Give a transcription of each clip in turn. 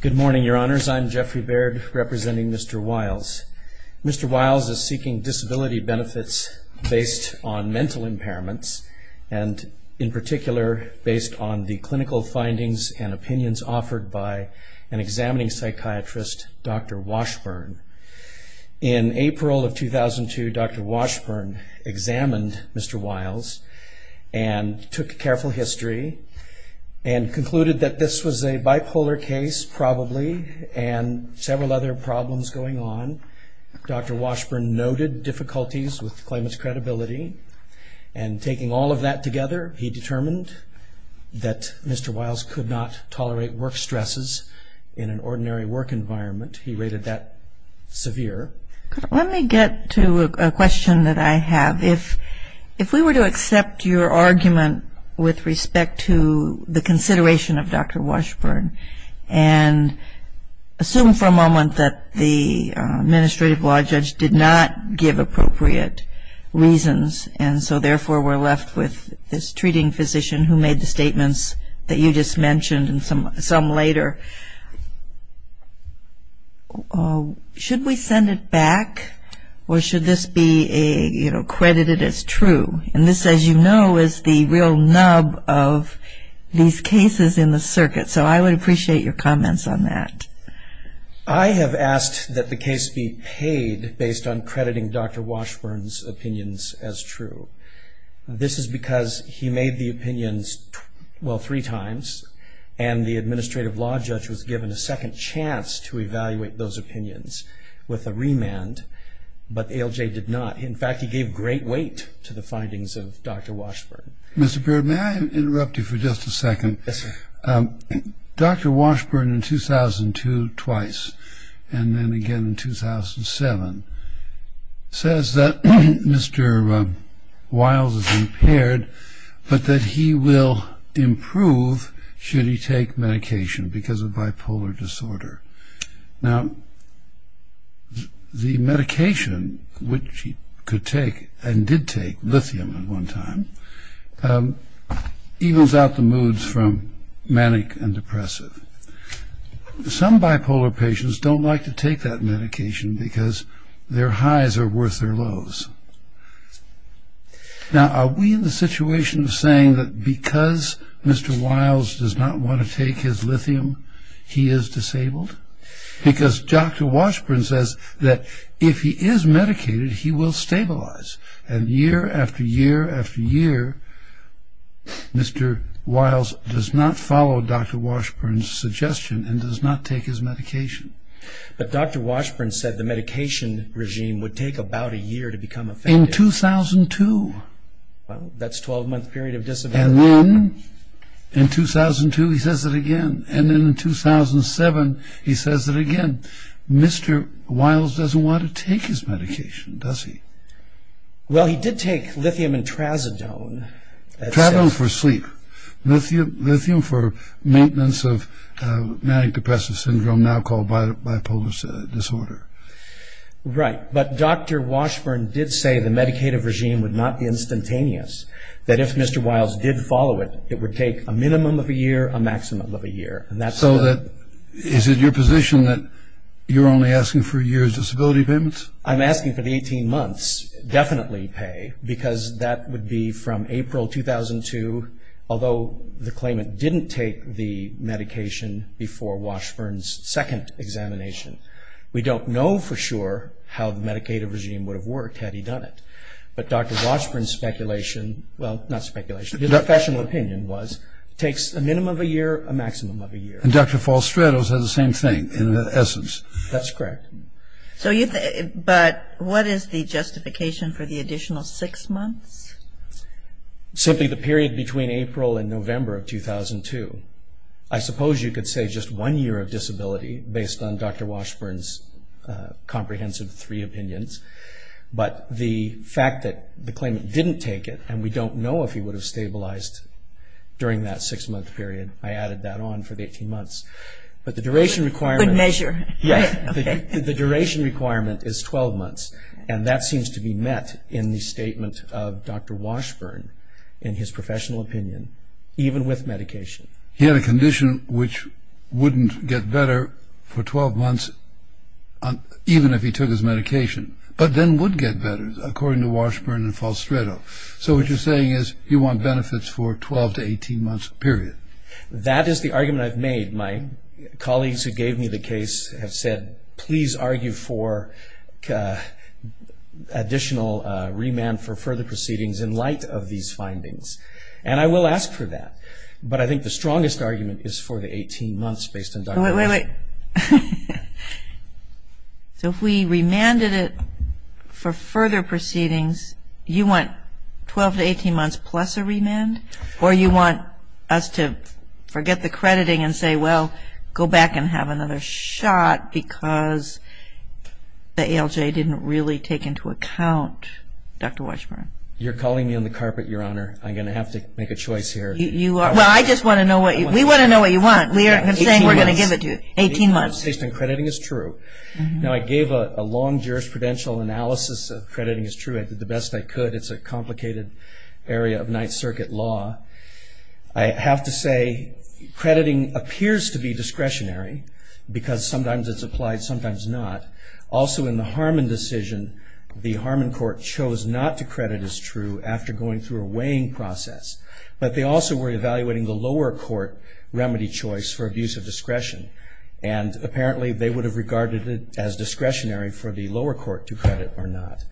Good morning, Your Honours. I'm Geoffrey Baird, representing Mr. Wyles. Mr. Wyles is seeking disability benefits based on mental impairments, and in particular based on the clinical findings and opinions offered by an examining psychiatrist, Dr. Washburn. In April of 2002, Dr. Washburn examined Mr. Wyles and took careful history and concluded that this was a bipolar case, probably, and several other problems going on. Dr. Washburn noted difficulties with claimant's credibility, and taking all of that together, he determined that Mr. Wyles could not tolerate work stresses in an ordinary work environment. He rated that severe. Let me get to a question that I have. If we were to accept your argument with respect to the consideration of Dr. Washburn and assume for a moment that the administrative law judge did not give appropriate reasons, and so therefore we're left with this treating physician who made the statements that you just mentioned and some later, should we send it back, or should this be credited as true? And this, as you know, is the real nub of these cases in the circuit, so I would appreciate your comments on that. I have asked that the case be paid based on crediting Dr. Washburn's opinions as true. This is because he made the opinions, well, three times, and the administrative law judge was given a second chance to evaluate those opinions with a remand, but ALJ did not. In fact, he gave great weight to the findings of Dr. Washburn. Mr. Baird, may I interrupt you for just a second? Yes, sir. Dr. Washburn in 2002 twice, and then again in 2007, says that Mr. Wiles is impaired, but that he will improve should he take medication because of bipolar disorder. Now, the medication which he could take, and did take, lithium at one time, evens out the moods from manic and depressive. Some bipolar patients don't like to take that medication because their highs are worth their lows. Now, are we in the situation of saying that because Mr. Wiles does not want to take his lithium, he is disabled? Because Dr. Washburn says that if he is medicated, he will stabilize, and year after year after year, Mr. Wiles does not follow Dr. Washburn's suggestion and does not take his medication. But Dr. Washburn said the medication regime would take about a year to become effective. In 2002. That's a 12-month period of disability. And then in 2002, he says it again, and then in 2007, he says it again. Mr. Wiles doesn't want to take his medication, does he? Well, he did take lithium and trazodone. Trazodone for sleep. Lithium for maintenance of manic depressive syndrome, now called bipolar disorder. Right. But Dr. Washburn did say the meditative regime would not be instantaneous, that if Mr. Wiles did follow it, it would take a minimum of a year, a maximum of a year. So is it your position that you're only asking for a year's disability payments? I'm asking for the 18 months, definitely pay, because that would be from April 2002, although the claimant didn't take the medication before Washburn's second examination. We don't know for sure how the meditative regime would have worked had he done it. But Dr. Washburn's speculation, well, not speculation, his professional opinion was it takes a minimum of a year, a maximum of a year. And Dr. Falstrado said the same thing, in essence. That's correct. But what is the justification for the additional six months? Simply the period between April and November of 2002. I suppose you could say just one year of disability, based on Dr. Washburn's comprehensive three opinions. But the fact that the claimant didn't take it, and we don't know if he would have stabilized during that six-month period, I added that on for the 18 months. But the duration requirement is 12 months, and that seems to be met in the statement of Dr. Washburn in his professional opinion, even with medication. He had a condition which wouldn't get better for 12 months, even if he took his medication, but then would get better, according to Washburn and Falstrado. So what you're saying is you want benefits for 12 to 18 months, period. That is the argument I've made. My colleagues who gave me the case have said, please argue for additional remand for further proceedings in light of these findings. And I will ask for that. But I think the strongest argument is for the 18 months based on Dr. Washburn. Wait, wait, wait. So if we remanded it for further proceedings, you want 12 to 18 months plus a remand? Or you want us to forget the crediting and say, well, go back and have another shot, because the ALJ didn't really take into account Dr. Washburn? You're calling me on the carpet, Your Honor. I'm going to have to make a choice here. Well, I just want to know what you want. We want to know what you want. I'm saying we're going to give it to you. 18 months. 18 months based on crediting as true. Now, I gave a long jurisprudential analysis of crediting as true. I did the best I could. It's a complicated area of Ninth Circuit law. I have to say crediting appears to be discretionary, because sometimes it's applied, sometimes not. Also, in the Harmon decision, the Harmon court chose not to credit as true after going through a weighing process. But they also were evaluating the lower court remedy choice for abuse of discretion, and apparently they would have regarded it as discretionary for the lower court to credit or not.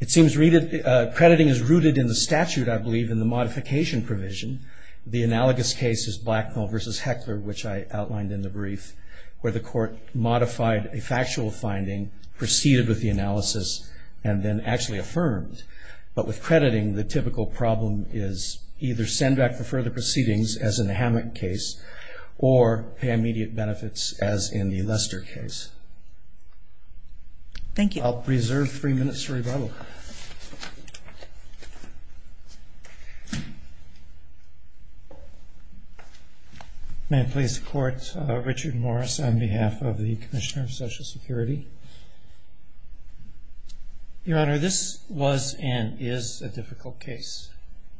It seems crediting is rooted in the statute, I believe, in the modification provision. The analogous case is Blacknell v. Heckler, which I outlined in the brief, where the court modified a factual finding, proceeded with the analysis, and then actually affirmed. But with crediting, the typical problem is either send back for further proceedings as in the Hammock case or pay immediate benefits as in the Lester case. Thank you. I'll preserve three minutes for rebuttal. May it please the Court, Richard Morris on behalf of the Commissioner of Social Security. Your Honor, this was and is a difficult case.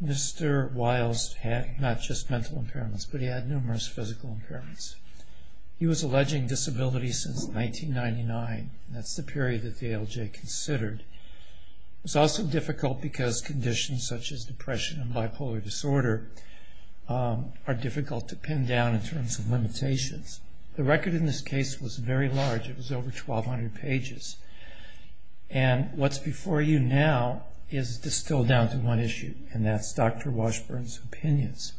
Mr. Wiles had not just mental impairments, but he had numerous physical impairments. He was alleging disability since 1999, and that's the period that the ALJ considered. It's also difficult because conditions such as depression and bipolar disorder are difficult to pin down in terms of limitations. The record in this case was very large. It was over 1,200 pages. And what's before you now is distilled down to one issue, and that's Dr. Washburn's opinions.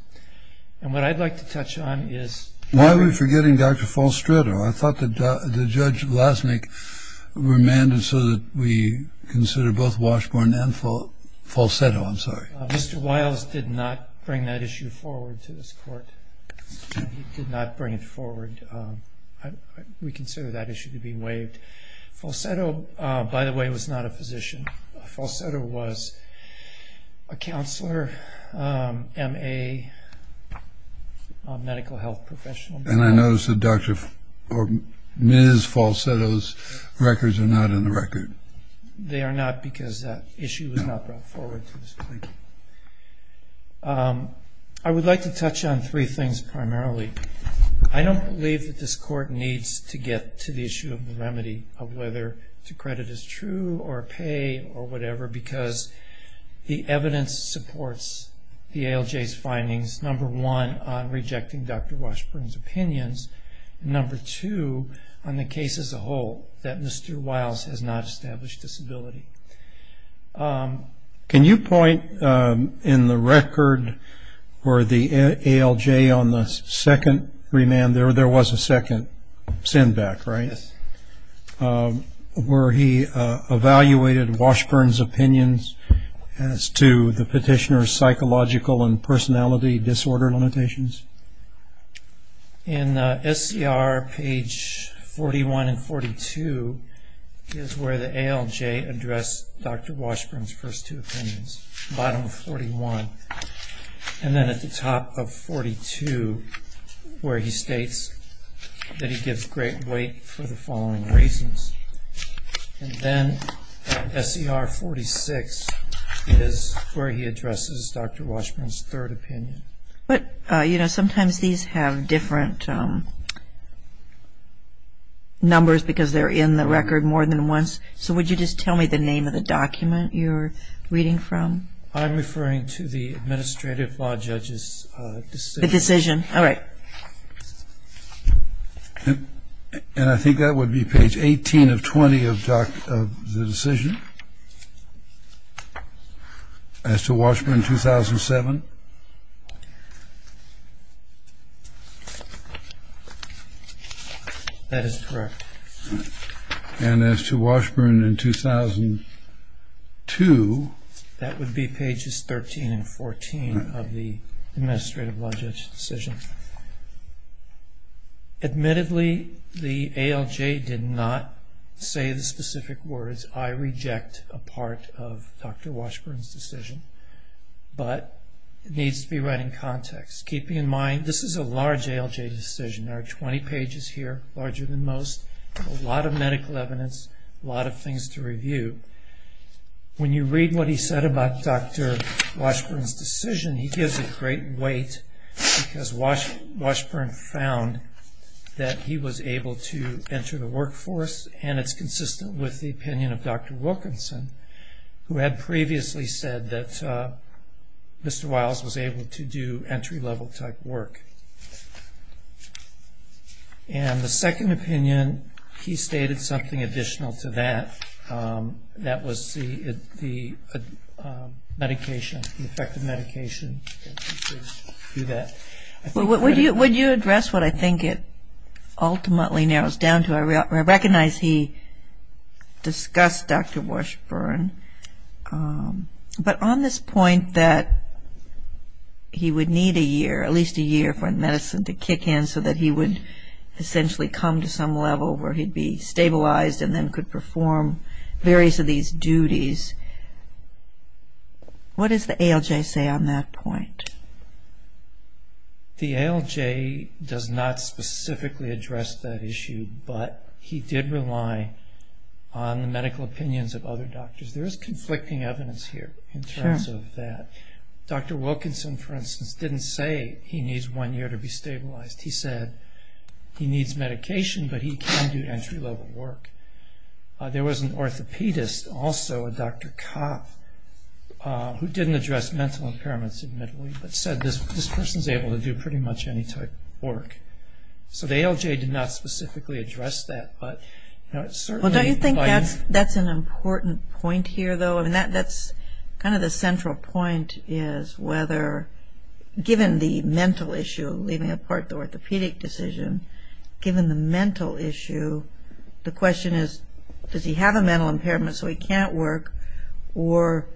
And what I'd like to touch on is- Why are we forgetting Dr. Falsetto? I thought that Judge Lasnik remanded so that we consider both Washburn and Falsetto. I'm sorry. Mr. Wiles did not bring that issue forward to this Court. He did not bring it forward. We consider that issue to be waived. Falsetto, by the way, was not a physician. Falsetto was a counselor, MA, medical health professional. And I notice that Dr. or Ms. Falsetto's records are not in the record. They are not because that issue was not brought forward to this Court. I would like to touch on three things primarily. I don't believe that this Court needs to get to the issue of the remedy, of whether to credit is true or pay or whatever, because the evidence supports the ALJ's findings, number one, on rejecting Dr. Washburn's opinions, and number two, on the case as a whole, that Mr. Wiles has not established disability. Can you point in the record where the ALJ on the second remand, there was a second send-back, right? Yes. Where he evaluated Washburn's opinions as to the petitioner's psychological and personality disorder limitations? In SCR page 41 and 42 is where the ALJ addressed Dr. Washburn's first two opinions, bottom of 41. And then at the top of 42, where he states that he gives great weight for the following reasons. And then SCR 46 is where he addresses Dr. Washburn's third opinion. But, you know, sometimes these have different numbers because they're in the record more than once. So would you just tell me the name of the document you're reading from? I'm referring to the Administrative Law Judge's decision. The decision. All right. And I think that would be page 18 of 20 of the decision. As to Washburn in 2007? That is correct. And as to Washburn in 2002? That would be pages 13 and 14 of the Administrative Law Judge's decision. Admittedly, the ALJ did not say the specific words, I reject a part of Dr. Washburn's decision. But it needs to be read in context, keeping in mind this is a large ALJ decision. There are 20 pages here, larger than most, a lot of medical evidence, a lot of things to review. When you read what he said about Dr. Washburn's decision, he gives it great weight because Washburn found that he was able to enter the workforce, and it's consistent with the opinion of Dr. Wilkinson, who had previously said that Mr. Wiles was able to do entry-level type work. And the second opinion, he stated something additional to that. That was the medication, the effective medication. Would you address what I think it ultimately narrows down to? I recognize he discussed Dr. Washburn, but on this point that he would need a year, at least a year for medicine to kick in so that he would essentially come to some level where he'd be stabilized and then could perform various of these duties, what does the ALJ say on that point? But he did rely on the medical opinions of other doctors. There is conflicting evidence here in terms of that. Dr. Wilkinson, for instance, didn't say he needs one year to be stabilized. He said he needs medication, but he can do entry-level work. There was an orthopedist, also a Dr. Kopp, who didn't address mental impairments, admittedly, but said this person's able to do pretty much any type of work. So the ALJ did not specifically address that. Well, don't you think that's an important point here, though? I mean, that's kind of the central point is whether, given the mental issue, leaving apart the orthopedic decision, given the mental issue, the question is, does he have a mental impairment so he can't work, or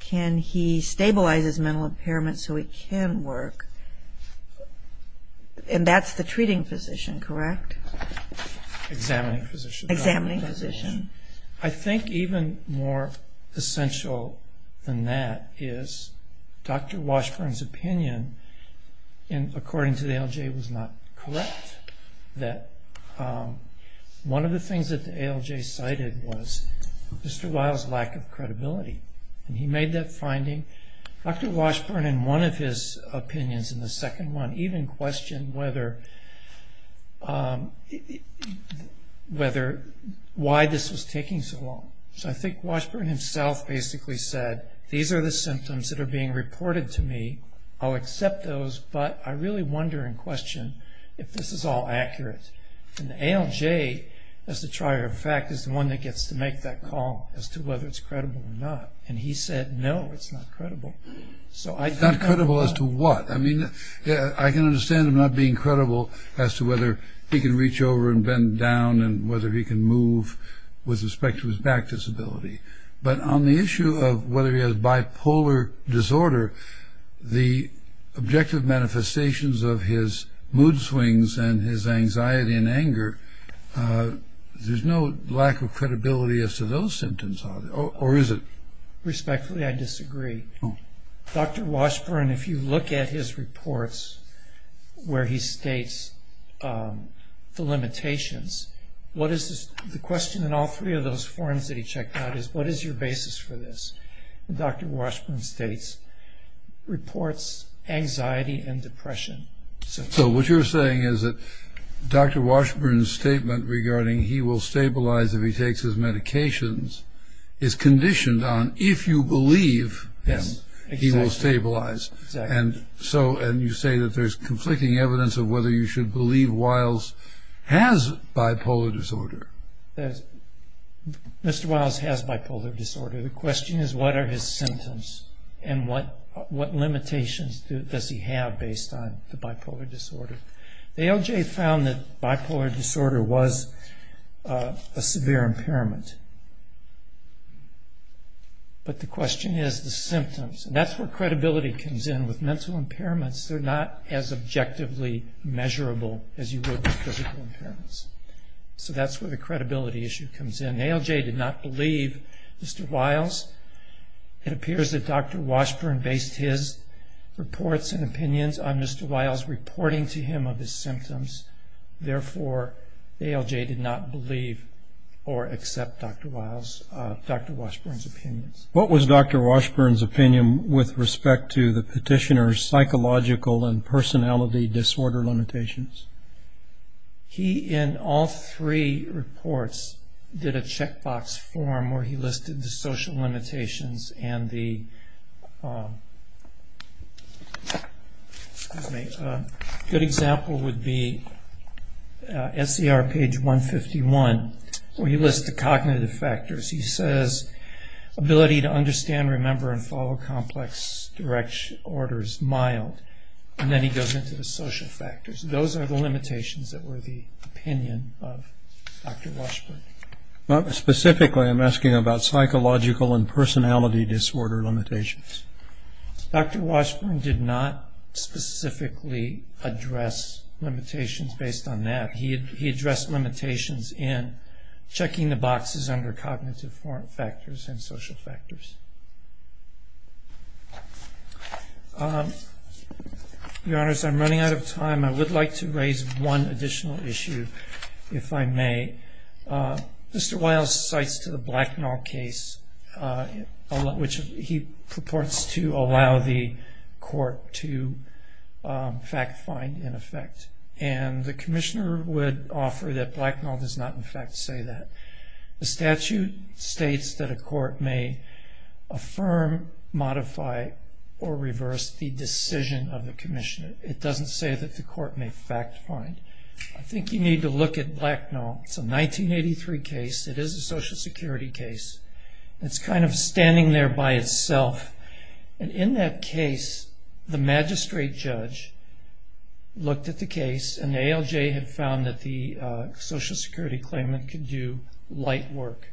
can he stabilize his mental impairment so he can work? And that's the treating physician, correct? Examining physician. Examining physician. I think even more essential than that is Dr. Washburn's opinion, and according to the ALJ was not correct, that one of the things that the ALJ cited was Mr. Weil's lack of credibility, and he made that finding. Dr. Washburn, in one of his opinions, in the second one, even questioned why this was taking so long. So I think Washburn himself basically said, these are the symptoms that are being reported to me, I'll accept those, but I really wonder and question if this is all accurate. And the ALJ, as a trier of fact, is the one that gets to make that call as to whether it's credible or not. And he said, no, it's not credible. It's not credible as to what? I mean, I can understand him not being credible as to whether he can reach over and bend down and whether he can move with respect to his back disability. But on the issue of whether he has bipolar disorder, the objective manifestations of his mood swings and his anxiety and anger, there's no lack of credibility as to those symptoms, or is it? Respectfully, I disagree. Dr. Washburn, if you look at his reports where he states the limitations, the question in all three of those forms that he checked out is, what is your basis for this? Dr. Washburn states, reports anxiety and depression. So what you're saying is that Dr. Washburn's statement regarding he will stabilize if he takes his medications is conditioned on if you believe him, he will stabilize. And you say that there's conflicting evidence of whether you should believe Wiles has bipolar disorder. Mr. Wiles has bipolar disorder. The question is what are his symptoms and what limitations does he have based on the bipolar disorder? The ALJ found that bipolar disorder was a severe impairment. But the question is the symptoms. And that's where credibility comes in. With mental impairments, they're not as objectively measurable as you would with physical impairments. So that's where the credibility issue comes in. ALJ did not believe Mr. Wiles. It appears that Dr. Washburn based his reports and opinions on Mr. Wiles reporting to him of his symptoms. Therefore, ALJ did not believe or accept Dr. Washburn's opinions. What was Dr. Washburn's opinion with respect to the petitioner's psychological and personality disorder limitations? He, in all three reports, did a checkbox form where he listed the social limitations and the good example would be SCR page 151, where he lists the cognitive factors. He says ability to understand, remember, and follow complex orders, mild. And then he goes into the social factors. Those are the limitations that were the opinion of Dr. Washburn. Specifically, I'm asking about psychological and personality disorder limitations. Dr. Washburn did not specifically address limitations based on that. He addressed limitations in checking the boxes under cognitive factors and social factors. Your Honors, I'm running out of time. I would like to raise one additional issue, if I may. Mr. Wiles cites to the Blacknall case, which he purports to allow the court to fact find, in effect. And the commissioner would offer that Blacknall does not, in fact, say that. The statute states that a court may affirm, modify, or reverse the decision of the commissioner. It doesn't say that the court may fact find. I think you need to look at Blacknall. It's a 1983 case. It is a Social Security case. It's kind of standing there by itself. And in that case, the magistrate judge looked at the case, and the ALJ had found that the Social Security claimant could do light work.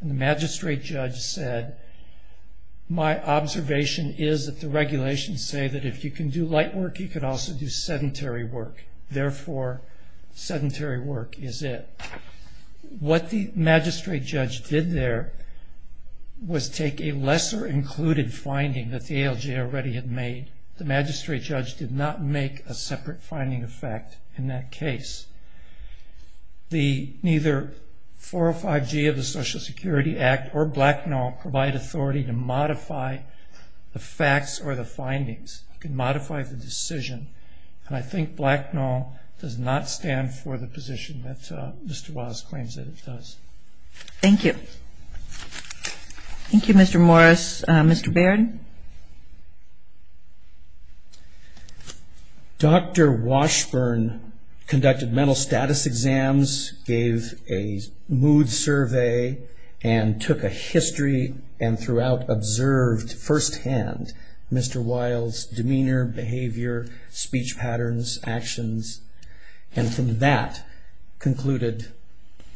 And the magistrate judge said, My observation is that the regulations say that if you can do light work, you can also do sedentary work. Therefore, sedentary work is it. What the magistrate judge did there was take a lesser included finding that the ALJ already had made. The magistrate judge did not make a separate finding, in fact, in that case. The neither 405G of the Social Security Act or Blacknall provide authority to modify the facts or the findings. It can modify the decision. And I think Blacknall does not stand for the position that Mr. Was claims that it does. Thank you. Thank you, Mr. Morris. Mr. Baird? Dr. Washburn conducted mental status exams, gave a mood survey, and took a history and throughout observed firsthand Mr. Wiles' demeanor, behavior, speech patterns, actions. And from that concluded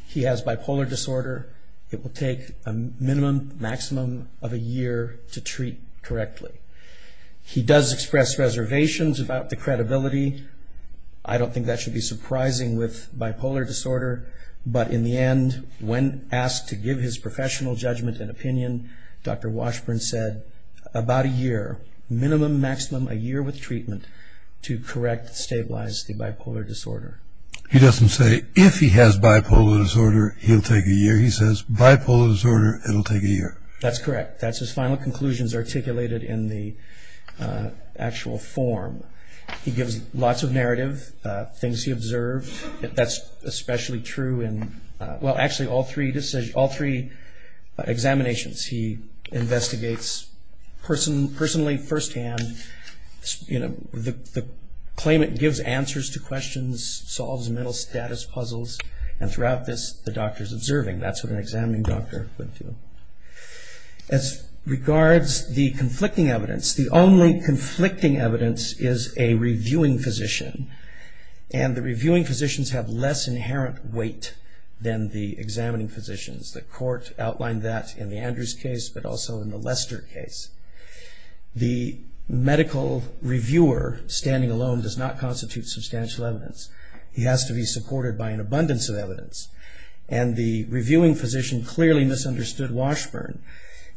he has bipolar disorder. It will take a minimum maximum of a year to treat correctly. He does express reservations about the credibility. I don't think that should be surprising with bipolar disorder. But in the end, when asked to give his professional judgment and opinion, Dr. Washburn said about a year, minimum maximum a year with treatment, to correct stabilize the bipolar disorder. He doesn't say if he has bipolar disorder, he'll take a year. He says bipolar disorder, it'll take a year. That's correct. That's his final conclusions articulated in the actual form. He gives lots of narrative, things he observed. That's especially true in, well, actually all three examinations. He investigates personally, firsthand. The claimant gives answers to questions, solves mental status puzzles. And throughout this, the doctor's observing. That's what an examining doctor would do. As regards the conflicting evidence, the only conflicting evidence is a reviewing physician. And the reviewing physicians have less inherent weight than the examining physicians. The court outlined that in the Andrews case, but also in the Lester case. The medical reviewer standing alone does not constitute substantial evidence. He has to be supported by an abundance of evidence. And the reviewing physician clearly misunderstood Washburn.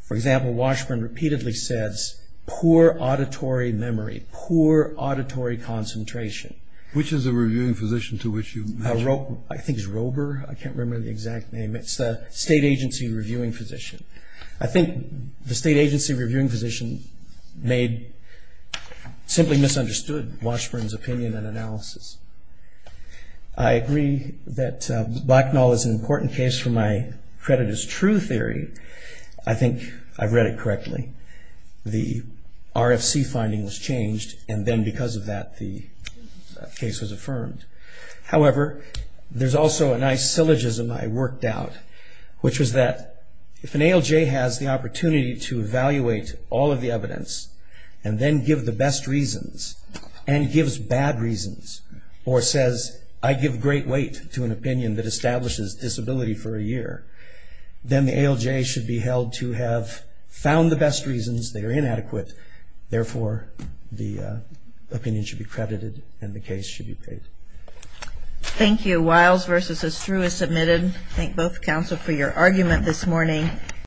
For example, Washburn repeatedly says, poor auditory memory, poor auditory concentration. Which is the reviewing physician to which you mentioned? I think it's Rober. I can't remember the exact name. It's the state agency reviewing physician. I think the state agency reviewing physician made, simply misunderstood Washburn's opinion and analysis. I agree that Blacknall is an important case for my credit as true theory. I think I've read it correctly. The RFC finding was changed, and then because of that, the case was affirmed. However, there's also a nice syllogism I worked out, which was that if an ALJ has the opportunity to evaluate all of the evidence and then give the best reasons, and gives bad reasons, or says I give great weight to an opinion that establishes disability for a year, then the ALJ should be held to have found the best reasons. They are inadequate. Therefore, the opinion should be credited and the case should be paid. Thank you. Wiles versus Estrue is submitted. Thank both counsel for your argument this morning.